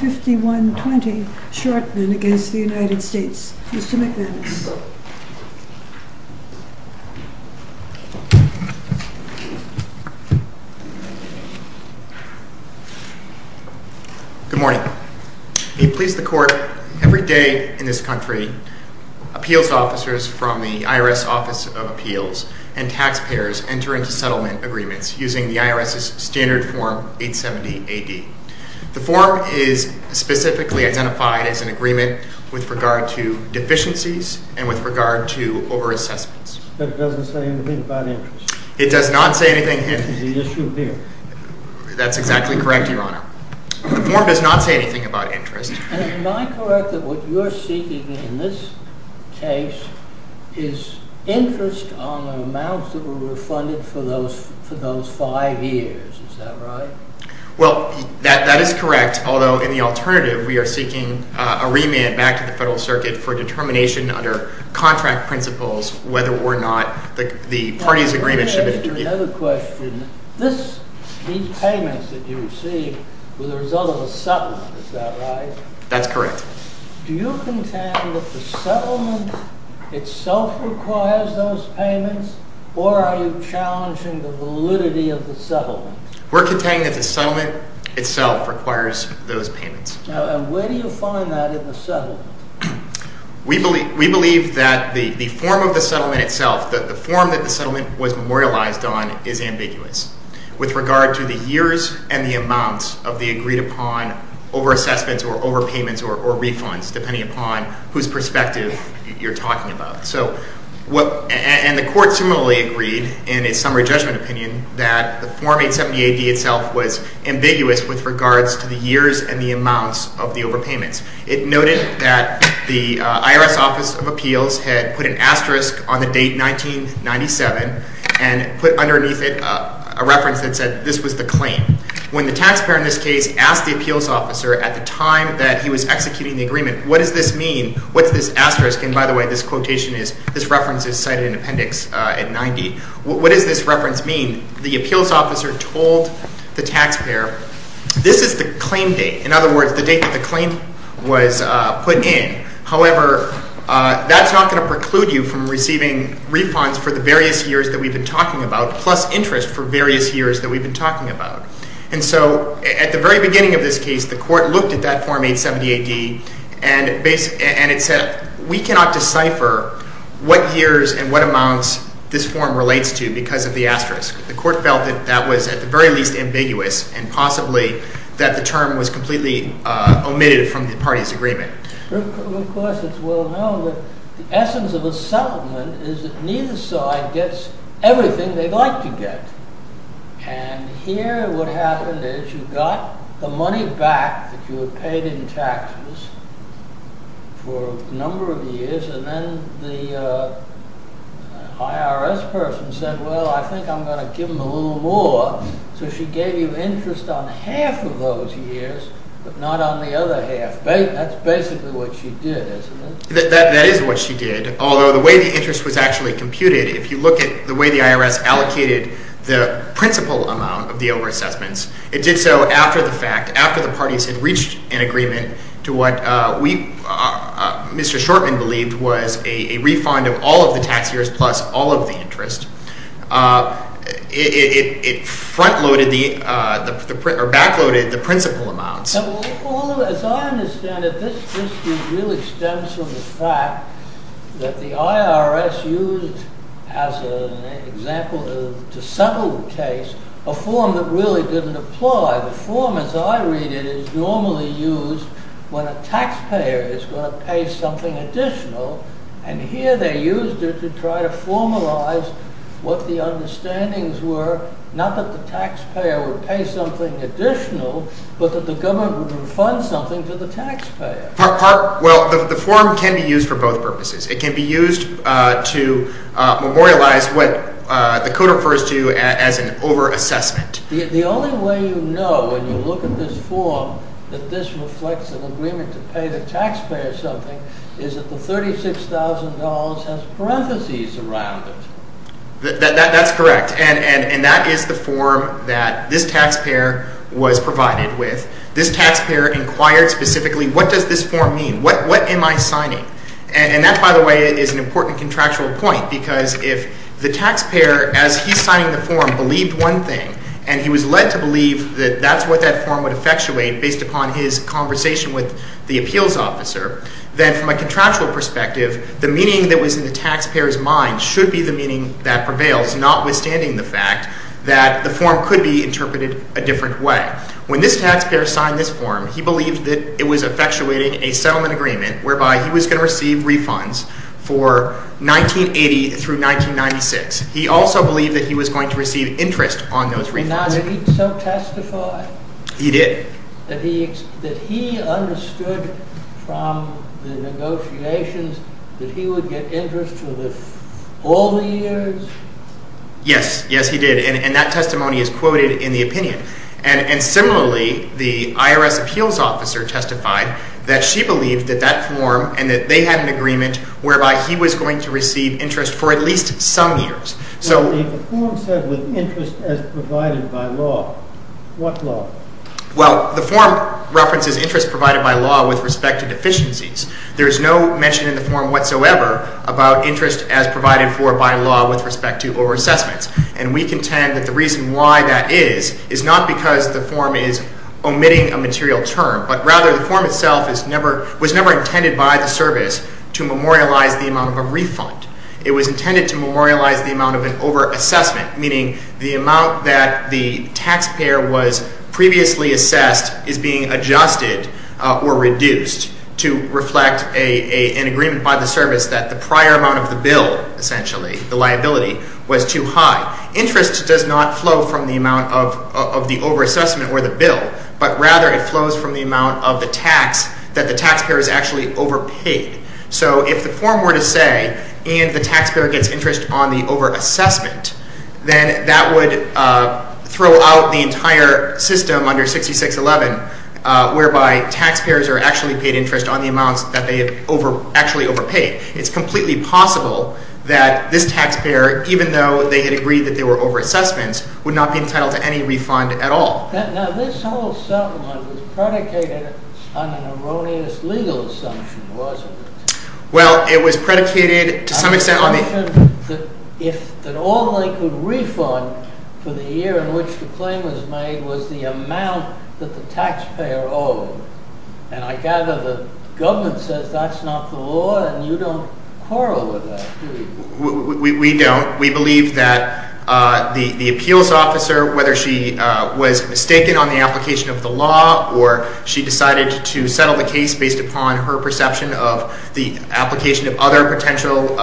Mr. McManus. Good morning. We please the Court, every day in this country, appeals officers from the IRS Office of Appeals and taxpayers enter into settlement agreements using the form, which is specifically identified as an agreement with regard to deficiencies and with regard to over-assessments. But it doesn't say anything about interest? It does not say anything. Is the issue here? That's exactly correct, Your Honor. The form does not say anything about interest. Am I correct that what you're seeking in this case is interest on the amounts that were refunded for those five years, is that right? Well, that is correct, yes, although in the alternative we are seeking a remit back to the Federal Circuit for determination under contract principles whether or not the party's agreement should be interviewed. Another question. These payments that you receive were the result of a settlement, is that right? That's correct. Do you contend that the settlement itself requires those payments or are you challenging the validity of the settlement? We're contending that the settlement itself requires those payments. Now, where do you find that in the settlement? We believe that the form of the settlement itself, the form that the settlement was memorialized on is ambiguous with regard to the years and the amounts of the agreed upon over-assessments or over-payments or refunds, depending upon whose perspective you're talking about. And the Court similarly agreed in its summary judgment opinion that the form 870-AD itself was ambiguous with regards to the years and the amounts of the over-payments. It noted that the IRS Office of Appeals had put an asterisk on the date 1997 and put underneath it a reference that said this was the claim. When the taxpayer in this case asked the appeals officer at the time that he was executing the agreement, what does this mean? What's this asterisk? And by the way, this quotation is, this reference is cited in appendix 90. What does this reference mean? The appeals officer told the taxpayer, this is the claim date. In other words, the date that the claim was put in. However, that's not going to preclude you from receiving refunds for the various years that we've been talking about, plus interest for various years that we've been talking about. And so at the very beginning of this case, the Court looked at that form 870-AD and it said, we cannot decipher what years and what amounts this form relates to because of the asterisk. The Court felt that that was at the very least ambiguous and possibly that the term was completely omitted from the party's agreement. Of course, it's well known that the essence of a settlement is that neither side gets everything they'd like to get. And here, what happened is you got the money back that you had paid in taxes for a number of years, and then the IRS Office said, well, I think I'm going to give them a little more. So she gave you interest on half of those years but not on the other half. That's basically what she did, isn't it? That is what she did. Although the way the interest was actually computed, if you look at the way the IRS allocated the principal amount of the overassessments, it did so after the fact, after the parties had reached an agreement to what Mr. Shortman believed was a refund of all of the tax years plus all of the interest. It front-loaded or back-loaded the principal amounts. As I understand it, this dispute really stems from the fact that the IRS used, as an example to settle the case, a form that really didn't apply. The form as I read it is normally used when a taxpayer is going to pay something additional, and here they used it to try to formalize what the understandings were, not that the taxpayer would pay something additional, but that the government would refund something to the taxpayer. Well, the form can be used for both purposes. It can be used to memorialize what the Code refers to as an overassessment. The only way you know when you look at this form that this reflects an agreement to pay the taxpayer something is that the $36,000 has parentheses around it. That's correct, and that is the form that this taxpayer was provided with. This taxpayer inquired specifically, what does this form mean? What am I signing? And that, by the way, is an important contractual point, because if the taxpayer, as he's signing the form, believed one thing, and he was led to believe that that's what that form would effectuate based upon his conversation with the appeals officer, then from a contractual perspective, the meaning that was in the taxpayer's mind should be the meaning that prevails, notwithstanding the fact that the form could be interpreted a different way. When this taxpayer signed this form, he believed that it was effectuating a settlement agreement whereby he was going to receive refunds for 1980 through 1996. He also believed that he was going to receive interest on those refunds. Now, did he so testify? He did. That he understood from the negotiations that he would get interest for all the years? Yes, yes, he did, and that testimony is quoted in the opinion. And similarly, the IRS appeals officer testified that she believed that that form and that they had an agreement whereby he was going to receive interest for at least some years. Now, the form said with interest as provided by law. What law? Well, the form references interest provided by law with respect to deficiencies. There is no mention in the form whatsoever about interest as provided for by law with respect to over-assessments. And we contend that the reason why that is is not because the form is omitting a material term, but rather the form itself was never intended by the service to memorialize the amount of a refund. It was intended to memorialize the amount of an over-assessment, meaning the amount that the taxpayer was previously assessed is being adjusted or reduced to reflect an agreement by the service that the prior amount of the bill, essentially, the liability, was too high. Interest does not flow from the amount of the over-assessment or the bill, but rather it flows from the amount of the tax that the taxpayer has paid. So if the form were to say, and the taxpayer gets interest on the over-assessment, then that would throw out the entire system under 6611, whereby taxpayers are actually paid interest on the amounts that they have actually overpaid. It's completely possible that this taxpayer, even though they had agreed that they were over-assessments, would not be entitled to any refund at all. Now, this whole settlement was predicated on an erroneous legal assumption, wasn't it? Well, it was predicated, to some extent, on the... An assumption that all they could refund for the year in which the claim was made was the amount that the taxpayer owed. And I gather the government says that's not the law, and you don't quarrel with that, do you? We don't. We believe that the appeals officer, whether she was mistaken on the application of the law or she decided to settle the case based upon her perception of the application of other potential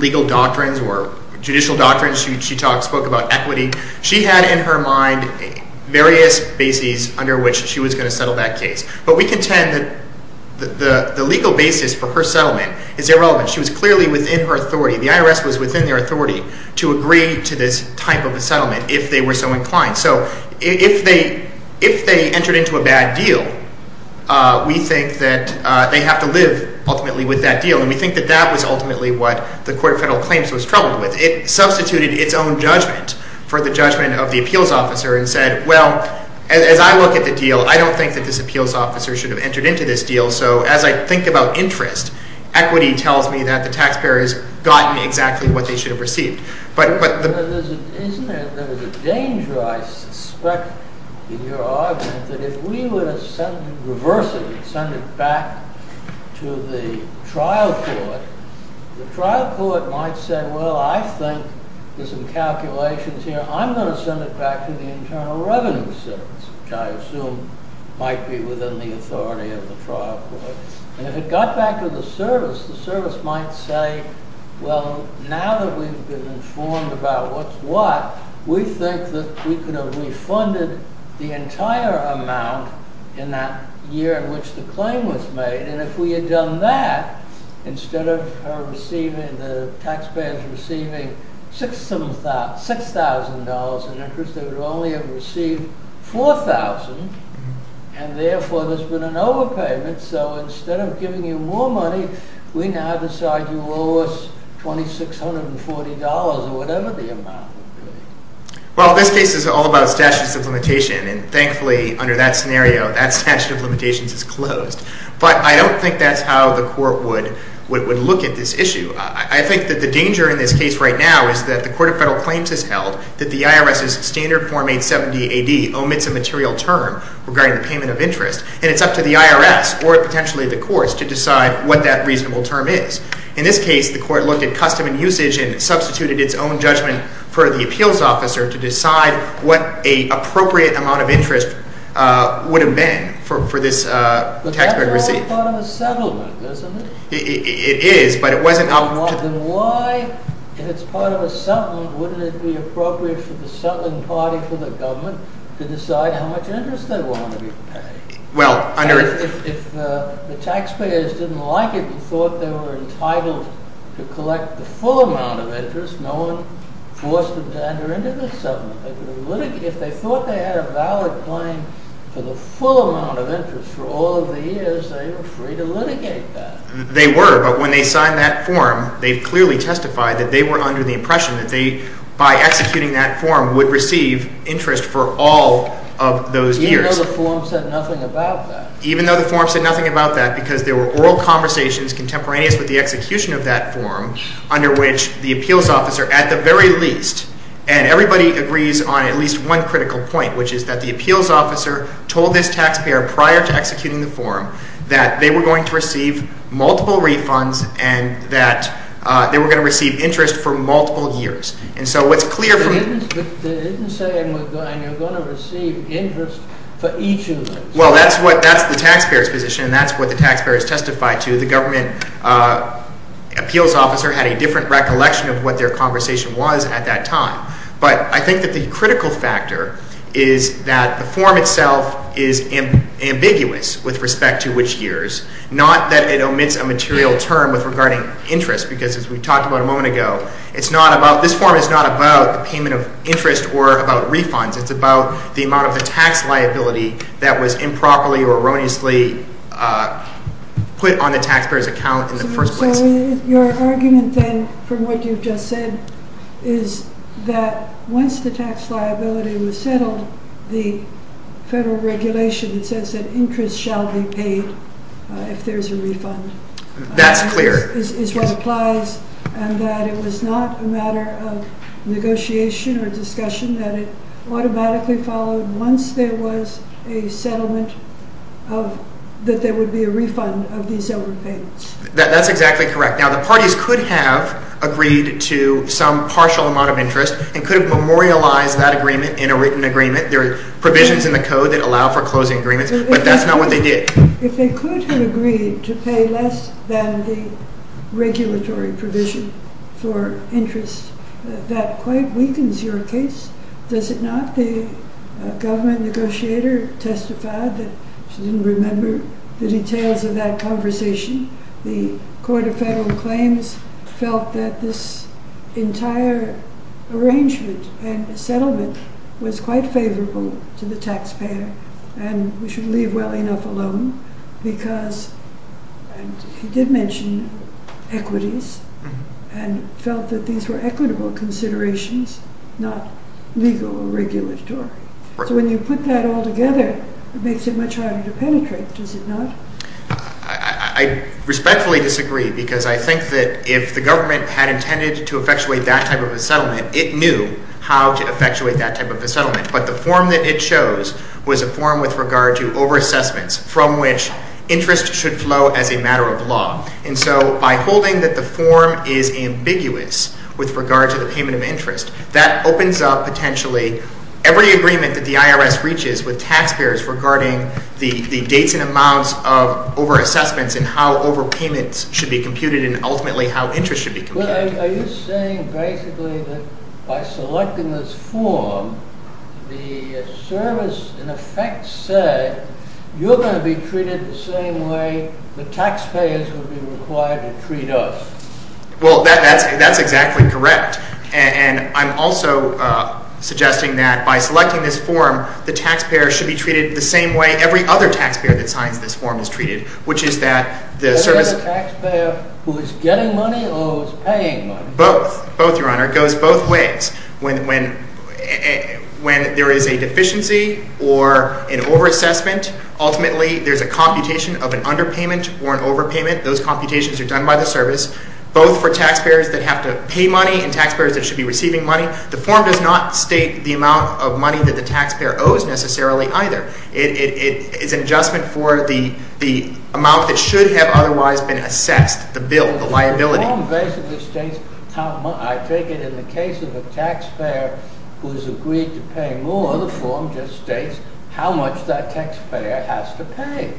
legal doctrines or judicial doctrines, she spoke about equity, she had in her mind various bases under which she was going to settle that case. But we contend that the legal basis for her settlement is irrelevant. She was clearly within her authority. The IRS was within their authority to agree to this type of a settlement if they were so inclined. So if they entered into a bad deal, we think that they have to live, ultimately, with that deal. And we think that that was ultimately what the Court of Federal Claims was troubled with. It substituted its own judgment for the judgment of the appeals officer and said, well, as I look at the deal, I don't think that this appeals officer should have entered into this deal. So as I think about interest, equity tells me that the taxpayer has gotten exactly what they should have received. But there's a danger, I suspect, in your argument, that if we were to reverse it and send it back to the trial court, the trial court might say, well, I think there's some calculations here. I'm going to send it back to the Internal Revenue Service, which I assume might be within the authority of the trial court. And if it got back to the service, the service might say, well, now that we've been informed about what's what, we think that we could have refunded the entire amount in that year in which the claim was made. And if we had done that, instead of the taxpayers receiving $6,000 in interest, they would only have received $4,000. And therefore, there's been an overpayment. So instead of giving you more money, we now decide you owe us $2,640 or whatever the amount would be. Well, this case is all about statutes of limitation. And thankfully, under that scenario, that statute of limitations is closed. But I don't think that's how the court would look at this issue. I think that the danger in this case right now is that the Court of Federal Claims has held that the IRS's standard form 870 AD omits a material term regarding the payment of interest. And it's up to the IRS, or potentially the courts, to decide what that reasonable term is. In this case, the court looked at custom and usage and substituted its own judgment for the appeals officer to decide what an appropriate amount of interest would have been for this taxpayer receipt. But that's all part of a settlement, isn't it? It is, but it wasn't up to the court. Then why, if it's part of a settlement, wouldn't it be appropriate for the settling party for the government to decide how much interest they want to be paid? Well, under— If the taxpayers didn't like it and thought they were entitled to collect the full amount of interest, no one forced them to enter into the settlement. If they thought they had a valid claim for the full amount of interest for all of the years, they were free to litigate that. They were, but when they signed that form, they clearly testified that they were under the impression that they, by executing that form, would receive interest for all of those years. Even though the form said nothing about that? Even though the form said nothing about that, because there were oral conversations contemporaneous with the execution of that form, under which the appeals officer, at the very least—and everybody agrees on at least one critical point, which is that the appeals officer told this taxpayer prior to executing the form that they were going to receive multiple refunds and that they were going to receive interest for multiple years. And so what's clear from— But they didn't say, and you're going to receive interest for each of those. Well, that's the taxpayer's position, and that's what the taxpayers testified to. The government appeals officer had a different recollection of what their conversation was at that time. But I think that the critical factor is that the form itself is ambiguous with respect to which years, not that it omits a material term regarding interest, because as we talked about a moment ago, it's not about—this form is not about the payment of interest or about refunds. It's about the amount of the tax liability that was improperly or erroneously put on the taxpayer's account in the first place. So your argument, then, from what you've just said, is that once the tax liability was settled, the federal regulation that says that interest shall be paid if there's a refund— That's clear. —is what applies and that it was not a matter of negotiation or discussion, that it automatically followed once there was a settlement that there would be a refund of these overpayments. That's exactly correct. Now, the parties could have agreed to some partial amount of interest and could have memorialized that agreement in a written agreement. There are provisions in the code that allow for closing agreements, but that's not what they did. If they could have agreed to pay less than the regulatory provision for interest, that quite weakens your case. Does it not? The government negotiator testified that she didn't remember the details of that conversation. The Court of Federal Claims felt that this entire arrangement and settlement was quite favorable to the taxpayer and we should leave well enough alone because he did mention equities and felt that these were equitable considerations, not legal or regulatory. So when you put that all together, it makes it much harder to penetrate. Does it not? I respectfully disagree because I think that if the government had intended to effectuate that type of a settlement, it knew how to effectuate that type of a settlement. But the form that it chose was a form with regard to overassessments from which interest should flow as a matter of law. And so by holding that the form is ambiguous with regard to the payment of interest, that opens up potentially every agreement that the IRS reaches with taxpayers regarding the dates and amounts of overassessments and how overpayments should be computed and ultimately how interest should be computed. Are you saying basically that by selecting this form, the service in effect said, you're going to be treated the same way the taxpayers would be required to treat us? Well, that's exactly correct. And I'm also suggesting that by selecting this form, the taxpayer should be treated the same way every other taxpayer that signs this form is treated, which is that the service— Is it the taxpayer who is getting money or who is paying money? Both. Both, Your Honor. It goes both ways. When there is a deficiency or an overassessment, ultimately there's a computation of an underpayment or an overpayment. Those computations are done by the service, both for taxpayers that have to pay money and taxpayers that should be receiving money. The form does not state the amount of money that the taxpayer owes necessarily either. It's an adjustment for the amount that should have otherwise been assessed, the bill, the liability. The form basically states how much—I take it in the case of a taxpayer who has agreed to pay more, the form just states how much that taxpayer has to pay.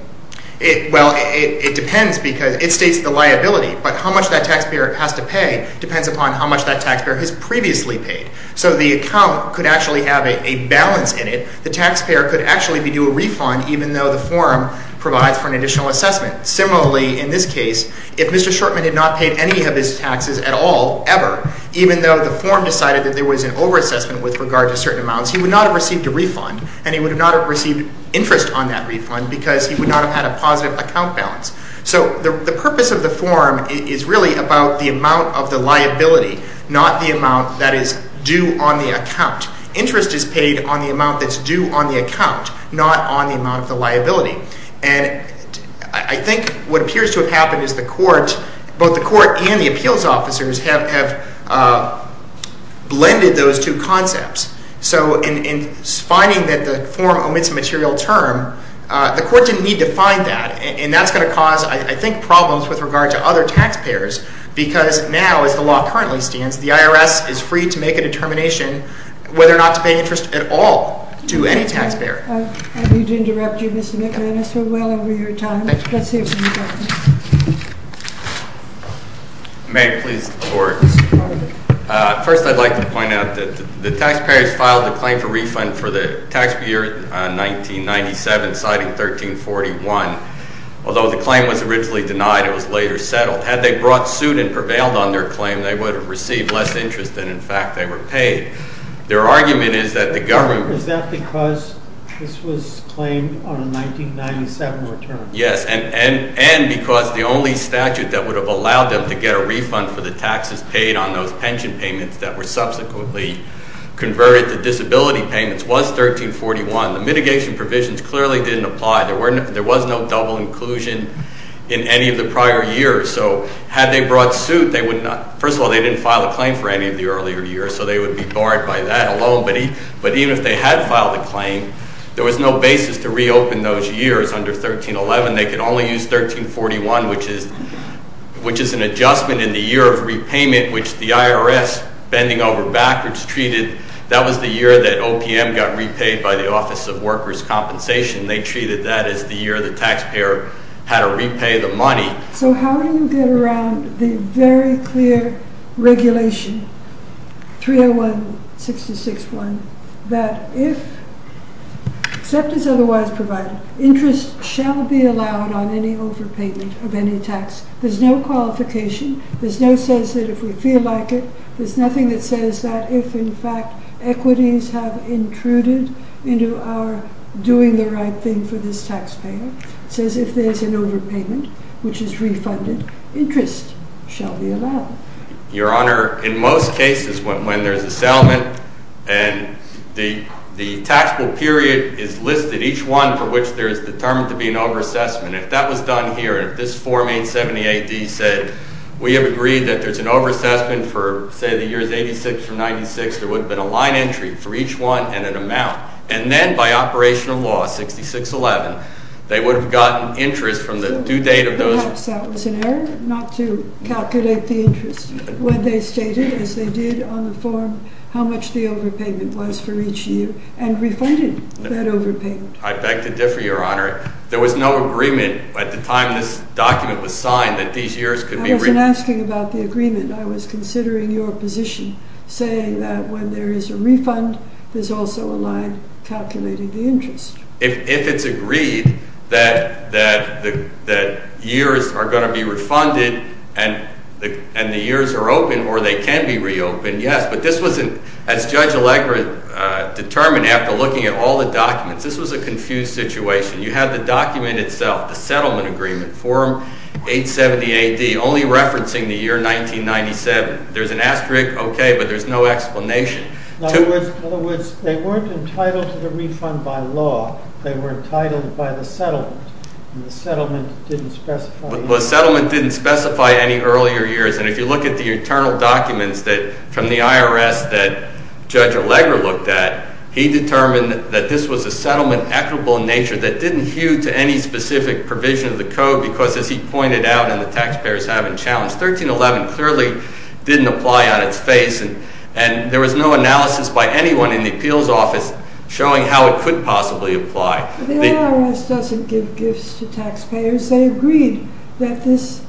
Well, it depends because it states the liability, but how much that taxpayer has to pay depends upon how much that taxpayer has previously paid. So the account could actually have a balance in it. The taxpayer could actually be due a refund even though the form provides for an additional assessment. Similarly, in this case, if Mr. Shortman had not paid any of his taxes at all, ever, even though the form decided that there was an overassessment with regard to certain amounts, he would not have received a refund and he would not have received interest on that refund because he would not have had a positive account balance. So the purpose of the form is really about the amount of the liability, not the amount that is due on the account. Interest is paid on the amount that's due on the account, not on the amount of the liability. And I think what appears to have happened is the court, both the court and the appeals officers, have blended those two concepts. So in finding that the form omits a material term, the court didn't need to find that. And that's going to cause, I think, problems with regard to other taxpayers because now, as the law currently stands, the IRS is free to make a determination whether or not to pay interest at all to any taxpayer. I need to interrupt you, Mr. McManus. We're well over your time. Thank you. Let's see what you've got. May it please the Court. First, I'd like to point out that the taxpayers filed a claim for refund for the taxpayer in 1997, citing 1341. Although the claim was originally denied, it was later settled. Had they brought suit and prevailed on their claim, they would have received less interest than, in fact, they were paid. Their argument is that the government... Is that because this was claimed on a 1997 return? Yes, and because the only statute that would have allowed them to get a refund for the taxes paid on those pension payments that were subsequently converted to disability payments was 1341. The mitigation provisions clearly didn't apply. There was no double inclusion in any of the prior years. So had they brought suit, they would not... First of all, they didn't file a claim for any of the earlier years, so they would be barred by that alone. But even if they had filed a claim, there was no basis to reopen those years under 1311. They could only use 1341, which is an adjustment in the year of repayment, which the IRS, bending over backwards, treated... That was the year that OPM got repaid by the Office of Workers' Compensation. They treated that as the year the taxpayer had to repay the money. So how do you get around the very clear regulation, 301-661, that if, except as otherwise provided, interest shall be allowed on any overpayment of any tax? There's no qualification. There's no sense that if we feel like it. There's nothing that says that if, in fact, equities have intruded into our doing the right thing for this taxpayer. It says if there's an overpayment, which is refunded, interest shall be allowed. Your Honor, in most cases, when there's a settlement and the taxable period is listed, each one for which there is determined to be an overassessment, if that was done here, if this Form 870-AD said, we have agreed that there's an overassessment for, say, the years 86 through 96, there would have been a line entry for each one and an amount. And then by operational law, 6611, they would have gotten interest from the due date of those... Perhaps that was an error not to calculate the interest when they stated, as they did on the form, how much the overpayment was for each year and refunded that overpayment. I beg to differ, Your Honor. There was no agreement at the time this document was signed that these years could be... I wasn't asking about the agreement. I was considering your position, saying that when there is a refund, there's also a line calculating the interest. If it's agreed that years are going to be refunded and the years are open or they can be reopened, yes. But this wasn't, as Judge Allegra determined after looking at all the documents, this was a confused situation. You have the document itself, the settlement agreement, form 870 A.D., only referencing the year 1997. There's an asterisk, okay, but there's no explanation. In other words, they weren't entitled to the refund by law. They were entitled by the settlement, and the settlement didn't specify... The settlement didn't specify any earlier years. And if you look at the internal documents from the IRS that Judge Allegra looked at, he determined that this was a settlement equitable in nature that didn't hew to any specific provision of the code because, as he pointed out and the taxpayers haven't challenged, 1311 clearly didn't apply on its face. And there was no analysis by anyone in the appeals office showing how it could possibly apply. The IRS doesn't give gifts to taxpayers. They agreed that this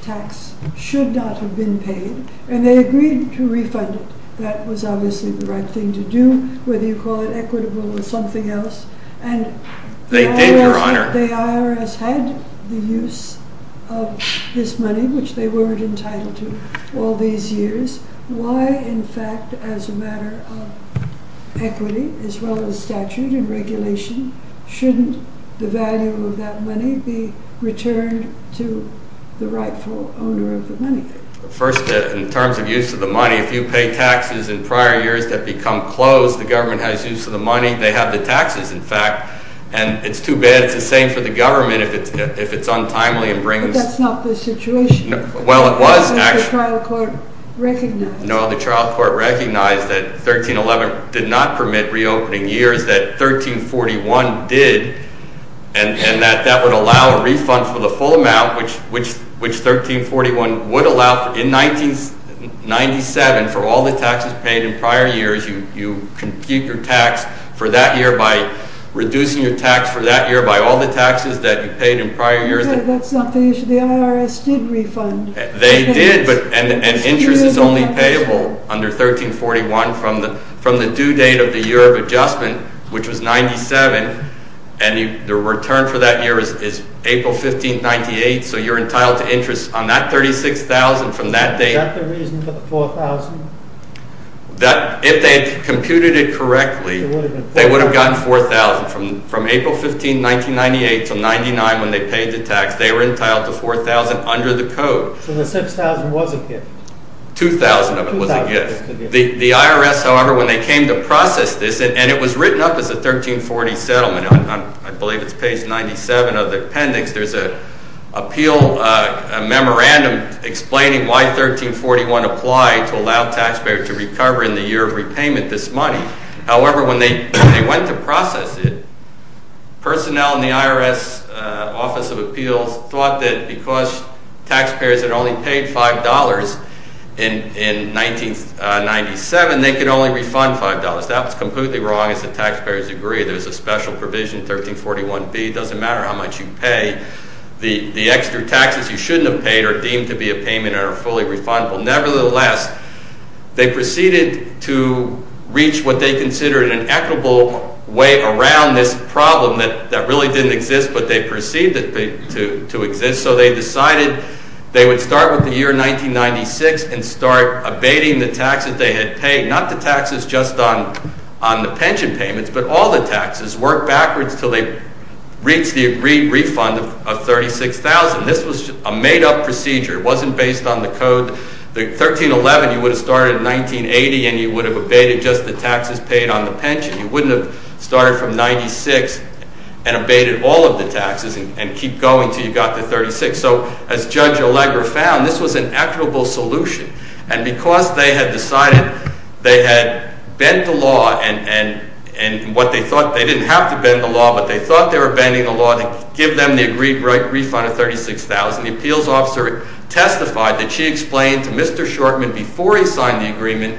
tax should not have been paid, and they agreed to refund it. That was obviously the right thing to do, whether you call it equitable or something else. And the IRS had the use of this money, which they weren't entitled to all these years. Why, in fact, as a matter of equity, as well as statute and regulation, shouldn't the value of that money be returned to the rightful owner of the money? First, in terms of use of the money, if you pay taxes in prior years that become closed, the government has use of the money. They have the taxes, in fact. And it's too bad. It's the same for the government if it's untimely and brings... But that's not the situation. Well, it was, actually. The trial court recognized. No, the trial court recognized that 1311 did not permit reopening years, that 1341 did, and that that would allow a refund for the full amount, which 1341 would allow. In 1997, for all the taxes paid in prior years, you compute your tax for that year by reducing your tax for that year by all the taxes that you paid in prior years. That's not the issue. The IRS did refund. They did, and interest is only payable under 1341 from the due date of the year of adjustment, which was 1997, and the return for that year is April 15, 1998, so you're entitled to interest on that $36,000 from that date. Is that the reason for the $4,000? If they computed it correctly, they would have gotten $4,000 from April 15, 1998 to 1999 when they paid the tax. They were entitled to $4,000 under the code. So the $6,000 was a gift? $2,000 of it was a gift. The IRS, however, when they came to process this, and it was written up as a 1340 settlement. I believe it's page 97 of the appendix. There's an appeal, a memorandum explaining why 1341 applied to allow taxpayer to recover in the year of repayment this money. However, when they went to process it, personnel in the IRS Office of Appeals thought that because taxpayers had only paid $5 in 1997, they could only refund $5. That was completely wrong, as the taxpayers agreed. There was a special provision, 1341B. It doesn't matter how much you pay. The extra taxes you shouldn't have paid are deemed to be a payment and are fully refundable. Nevertheless, they proceeded to reach what they considered an equitable way around this problem that really didn't exist, but they perceived it to exist. So they decided they would start with the year 1996 and start abating the taxes they had paid. Not the taxes just on the pension payments, but all the taxes worked backwards until they reached the agreed refund of $36,000. This was a made-up procedure. It wasn't based on the code. 1311, you would have started in 1980, and you would have abated just the taxes paid on the pension. You wouldn't have started from 1996 and abated all of the taxes and keep going until you got to 1936. So as Judge Allegra found, this was an equitable solution, and because they had decided they had bent the law, and what they thought they didn't have to bend the law, but they thought they were bending the law to give them the agreed refund of $36,000, the appeals officer testified that she explained to Mr. Shortman before he signed the agreement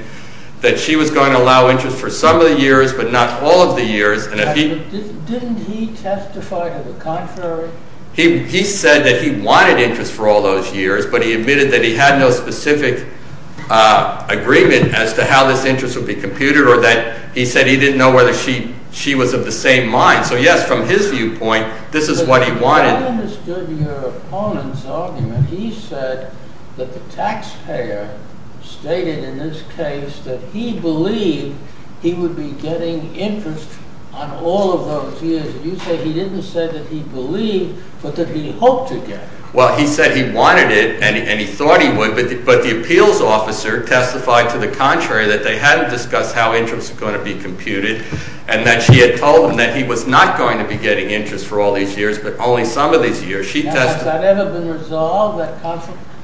that she was going to allow interest for some of the years, but not all of the years. Didn't he testify to the contrary? He said that he wanted interest for all those years, but he admitted that he had no specific agreement as to how this interest would be computed, or that he said he didn't know whether she was of the same mind. So yes, from his viewpoint, this is what he wanted. I understood your opponent's argument. He said that the taxpayer stated in this case that he believed he would be getting interest on all of those years, and you say he didn't say that he believed, but that he hoped to get it. Well, he said he wanted it, and he thought he would, but the appeals officer testified to the contrary, that they hadn't discussed how interest was going to be computed, and that she had told him that he was not going to be getting interest for all these years, but only some of these years. Now, has that ever been resolved, that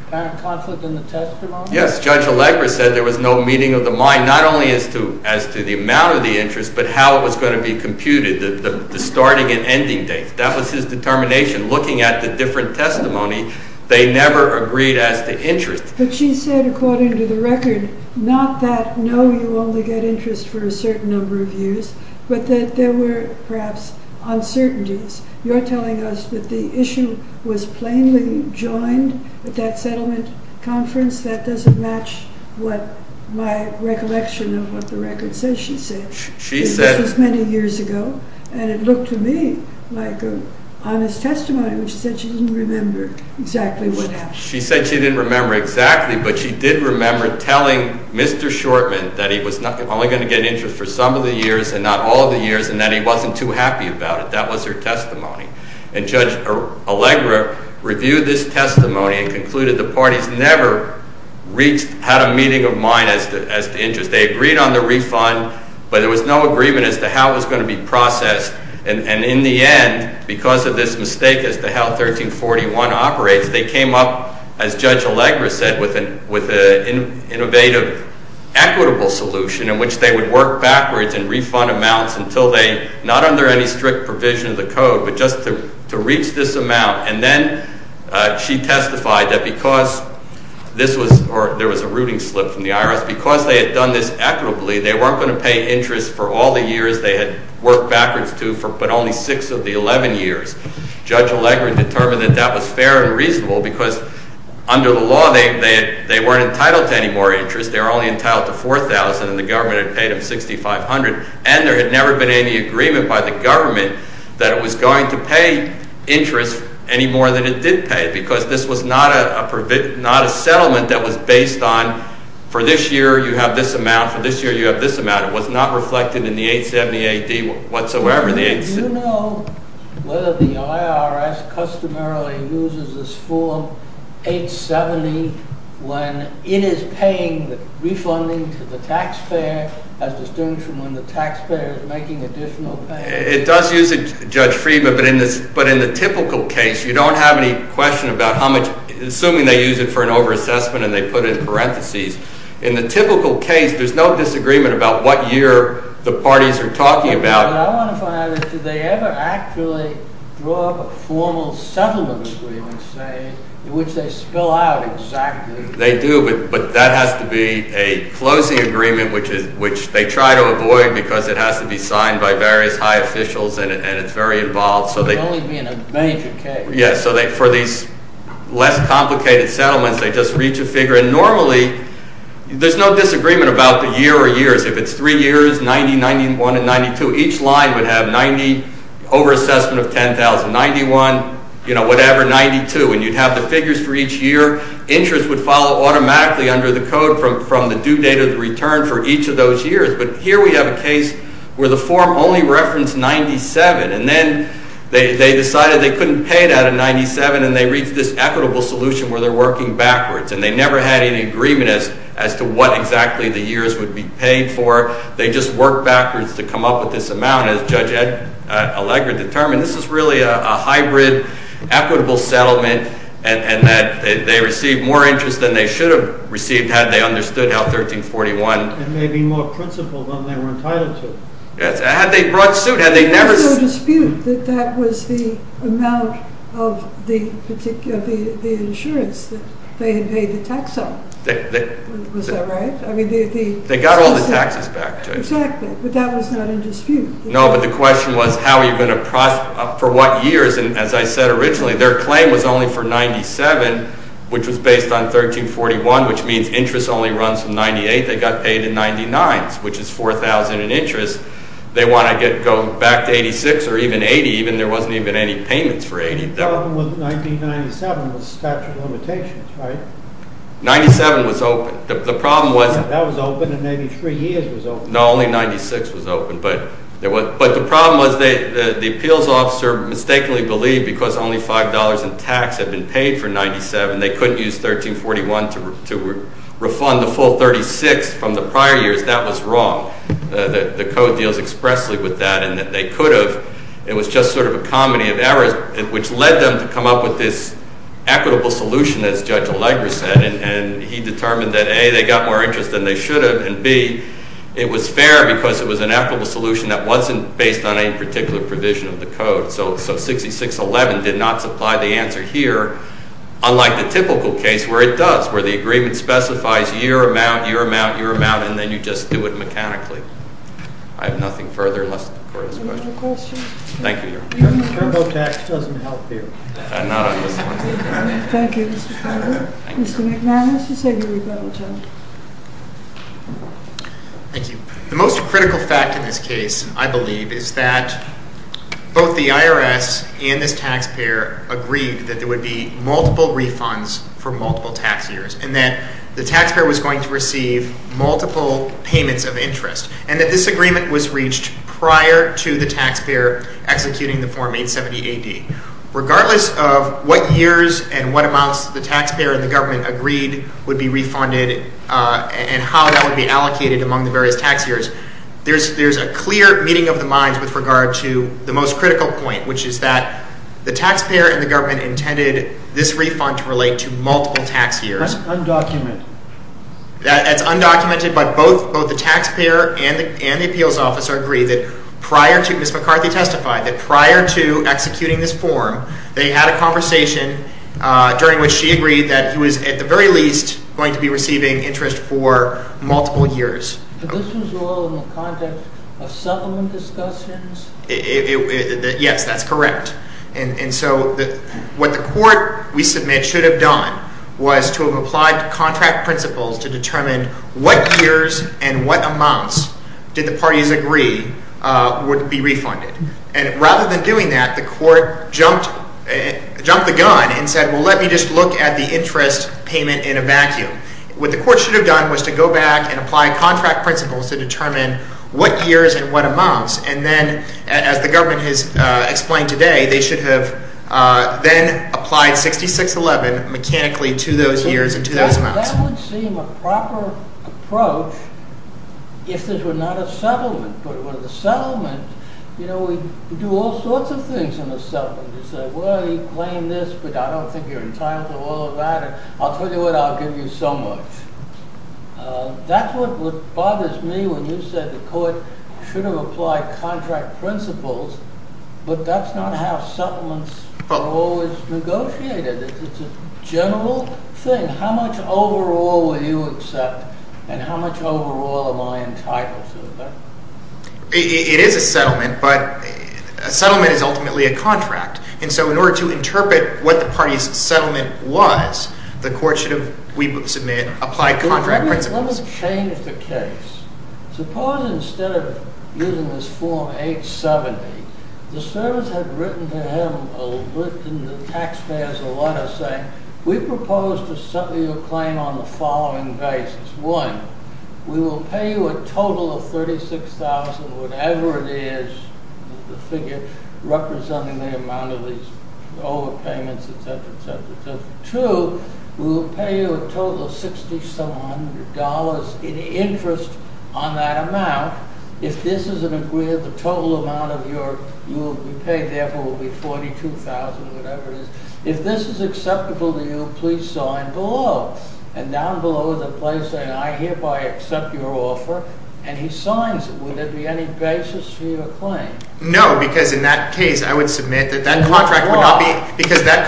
apparent conflict in the testimony? Yes, Judge Allegra said there was no meeting of the mind, not only as to the amount of the interest, but how it was going to be computed, the starting and ending dates. That was his determination, looking at the different testimony. They never agreed as to interest. But she said, according to the record, not that, no, you only get interest for a certain number of years, but that there were perhaps uncertainties. You're telling us that the issue was plainly joined at that settlement conference? That doesn't match what my recollection of what the record says she said. She said... This was many years ago, and it looked to me like an honest testimony, which said she didn't remember exactly what happened. She said she didn't remember exactly, but she did remember telling Mr. Shortman that he was only going to get interest for some of the years and not all of the years, and that he wasn't too happy about it. That was her testimony. And Judge Allegra reviewed this testimony and concluded the parties never had a meeting of mind as to interest. They agreed on the refund, but there was no agreement as to how it was going to be processed. And in the end, because of this mistake as to how 1341 operates, they came up, as Judge Allegra said, with an innovative equitable solution in which they would work backwards in refund amounts until they, not under any strict provision of the code, but just to reach this amount. And then she testified that because this was... Or there was a rooting slip from the IRS. Because they had done this equitably, they weren't going to pay interest for all the years they had worked backwards to, but only 6 of the 11 years. Judge Allegra determined that that was fair and reasonable because under the law, they weren't entitled to any more interest. They were only entitled to $4,000 and the government had paid them $6,500. And there had never been any agreement by the government that it was going to pay interest any more than it did pay because this was not a settlement that was based on for this year you have this amount, for this year you have this amount. It was not reflected in the 870 AD whatsoever. Do you know whether the IRS customarily uses this form 870 when it is paying the refunding to the taxpayer as distinguished from when the taxpayer is making additional payments? It does use it, Judge Friedman, but in the typical case, you don't have any question about how much... Assuming they use it for an over-assessment and they put in parentheses. In the typical case, there's no disagreement about what year the parties are talking about. But I want to find out, did they ever actually draw up a formal settlement agreement, say, which they spell out exactly? They do, but that has to be a closing agreement, which they try to avoid because it has to be signed by various high officials and it's very involved. It would only be in a major case. Yeah, so for these less complicated settlements, they just reach a figure. And normally, there's no disagreement about the year or years. If it's three years, 90, 91, and 92, each line would have 90, over-assessment of 10,000, 91, you know, whatever, 92. And you'd have the figures for each year. Insurance would follow automatically under the code from the due date of the return for each of those years. But here we have a case where the form only referenced 97, and then they decided they couldn't pay that at 97, and they reached this equitable solution where they're working backwards. And they never had any agreement as to what exactly the years would be paid for. They just worked backwards to come up with this amount. And as Judge Allegra determined, this is really a hybrid equitable settlement and that they received more interest than they should have received had they understood how 1341… It may be more principled than they were entitled to. Had they brought suit, had they never… There was no dispute that that was the amount of the insurance that they had paid the tax on. Was that right? They got all the taxes back, Joyce. Exactly, but that was not in dispute. No, but the question was how are you going to… For what years? And as I said originally, their claim was only for 97, which was based on 1341, which means interest only runs from 98. They got paid in 99s, which is 4,000 in interest. They want to go back to 86 or even 80. Even there wasn't even any payments for 80. The problem with 1997 was statute of limitations, right? 97 was open. That was open and 83 years was open. No, only 96 was open. But the problem was the appeals officer mistakenly believed because only $5 in tax had been paid for 97, they couldn't use 1341 to refund the full 36 from the prior years. That was wrong. The Code deals expressly with that and that they could have. It was just sort of a comedy of errors, which led them to come up with this equitable solution, as Judge Allegra said, and he determined that, A, they got more interest than they should have, and, B, it was fair because it was an equitable solution that wasn't based on any particular provision of the Code. So 6611 did not supply the answer here, unlike the typical case where it does, where the agreement specifies year amount, year amount, year amount, and then you just do it mechanically. I have nothing further. Any other questions? Thank you, Your Honor. Turbo tax doesn't help here. Not on this one. Thank you, Mr. Fowler. Mr. McNamara, would you say your rebuttal, please? Thank you. The most critical fact in this case, I believe, is that both the IRS and this taxpayer agreed that there would be multiple refunds for multiple tax years and that the taxpayer was going to receive multiple payments of interest and that this agreement was reached prior to the taxpayer executing the Form 870-AD. Regardless of what years and what amounts the taxpayer and the government agreed would be refunded and how that would be allocated among the various tax years, there's a clear meeting of the minds with regard to the most critical point, which is that the taxpayer and the government intended this refund to relate to multiple tax years. That's undocumented. That's undocumented, but both the taxpayer and the appeals officer agree that prior to Ms. McCarthy testified, that prior to executing this form, they had a conversation during which she agreed that he was at the very least going to be receiving interest for multiple years. But this was all in the context of settlement discussions? Yes, that's correct. And so what the court, we submit, should have done was to have applied contract principles to determine what years and what amounts did the parties agree would be refunded. And rather than doing that, the court jumped the gun and said, well, let me just look at the interest payment in a vacuum. What the court should have done was to go back and apply contract principles to determine what years and what amounts. And then, as the government has explained today, they should have then applied 6611 mechanically to those years and to those amounts. That would seem a proper approach if this were not a settlement. But with a settlement, you know, we do all sorts of things in a settlement. You say, well, you claim this, but I don't think you're entitled to all of that. I'll tell you what, I'll give you so much. That's what bothers me when you say the court should have applied contract principles, but that's not how settlements are always negotiated. It's a general thing. How much overall will you accept, and how much overall am I entitled to? It is a settlement, but a settlement is ultimately a contract. And so in order to interpret what the party's settlement was, the court should have, we would submit, applied contract principles. Let me change the case. Suppose instead of using this form 870, the servants had written to him, the taxpayers, a letter saying, we propose to settle your claim on the following basis. One, we will pay you a total of $36,000, whatever it is, the figure representing the amount of these overpayments, etc., etc. Two, we will pay you a total of $60,000 in interest on that amount. If this is an agreement, the total amount you will be paid therefore will be $42,000, whatever it is. If this is acceptable to you, please sign below. And down below is a place saying, I hereby accept your offer, and he signs it. Would there be any basis for your claim? No, because in that case I would submit that that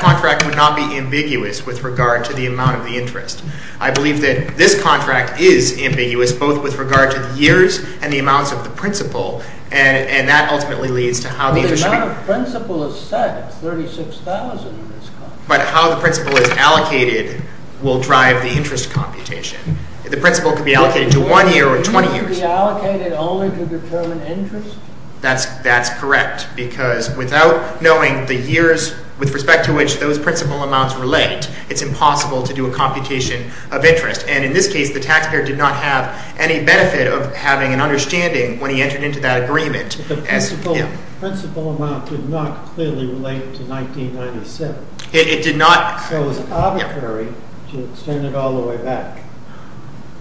contract would not be ambiguous with regard to the amount of the interest. I believe that this contract is ambiguous both with regard to the years and the amounts of the principle, and that ultimately leads to how the interest should be paid. But how the principle is set, it's $36,000 in this contract. But how the principle is allocated will drive the interest computation. The principle could be allocated to one year or 20 years. You mean it could be allocated only to determine interest? That's correct, because without knowing the years with respect to which those principle amounts relate, it's impossible to do a computation of interest. And in this case the taxpayer did not have any benefit of having an understanding when he entered into that agreement. But the principle amount did not clearly relate to 1997. It did not. So it was arbitrary to extend it all the way back.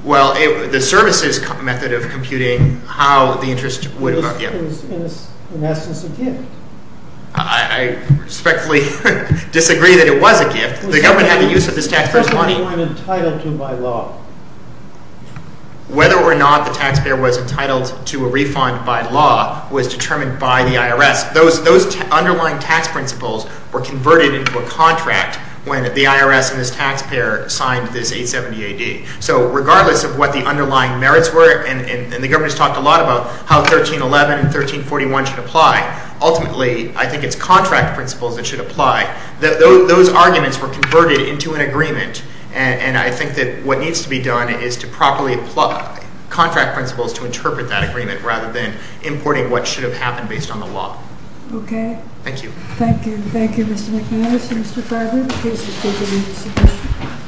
Well, the services method of computing how the interest would... It was in essence a gift. I respectfully disagree that it was a gift. The government had the use of this taxpayer's money. Whether or not the taxpayer was entitled to by law. was determined by the IRS. Those underlying tax principles were converted into a contract when the IRS and this taxpayer signed this 870 AD. So regardless of what the underlying merits were, and the government has talked a lot about how 1311 and 1341 should apply, ultimately I think it's contract principles that should apply. Those arguments were converted into an agreement. And I think that what needs to be done is to properly apply contract principles to interpret that agreement rather than importing what should have happened based on the law. Okay. Thank you. Thank you. Thank you, Mr. McManus and Mr. Farber. The case is taken into submission.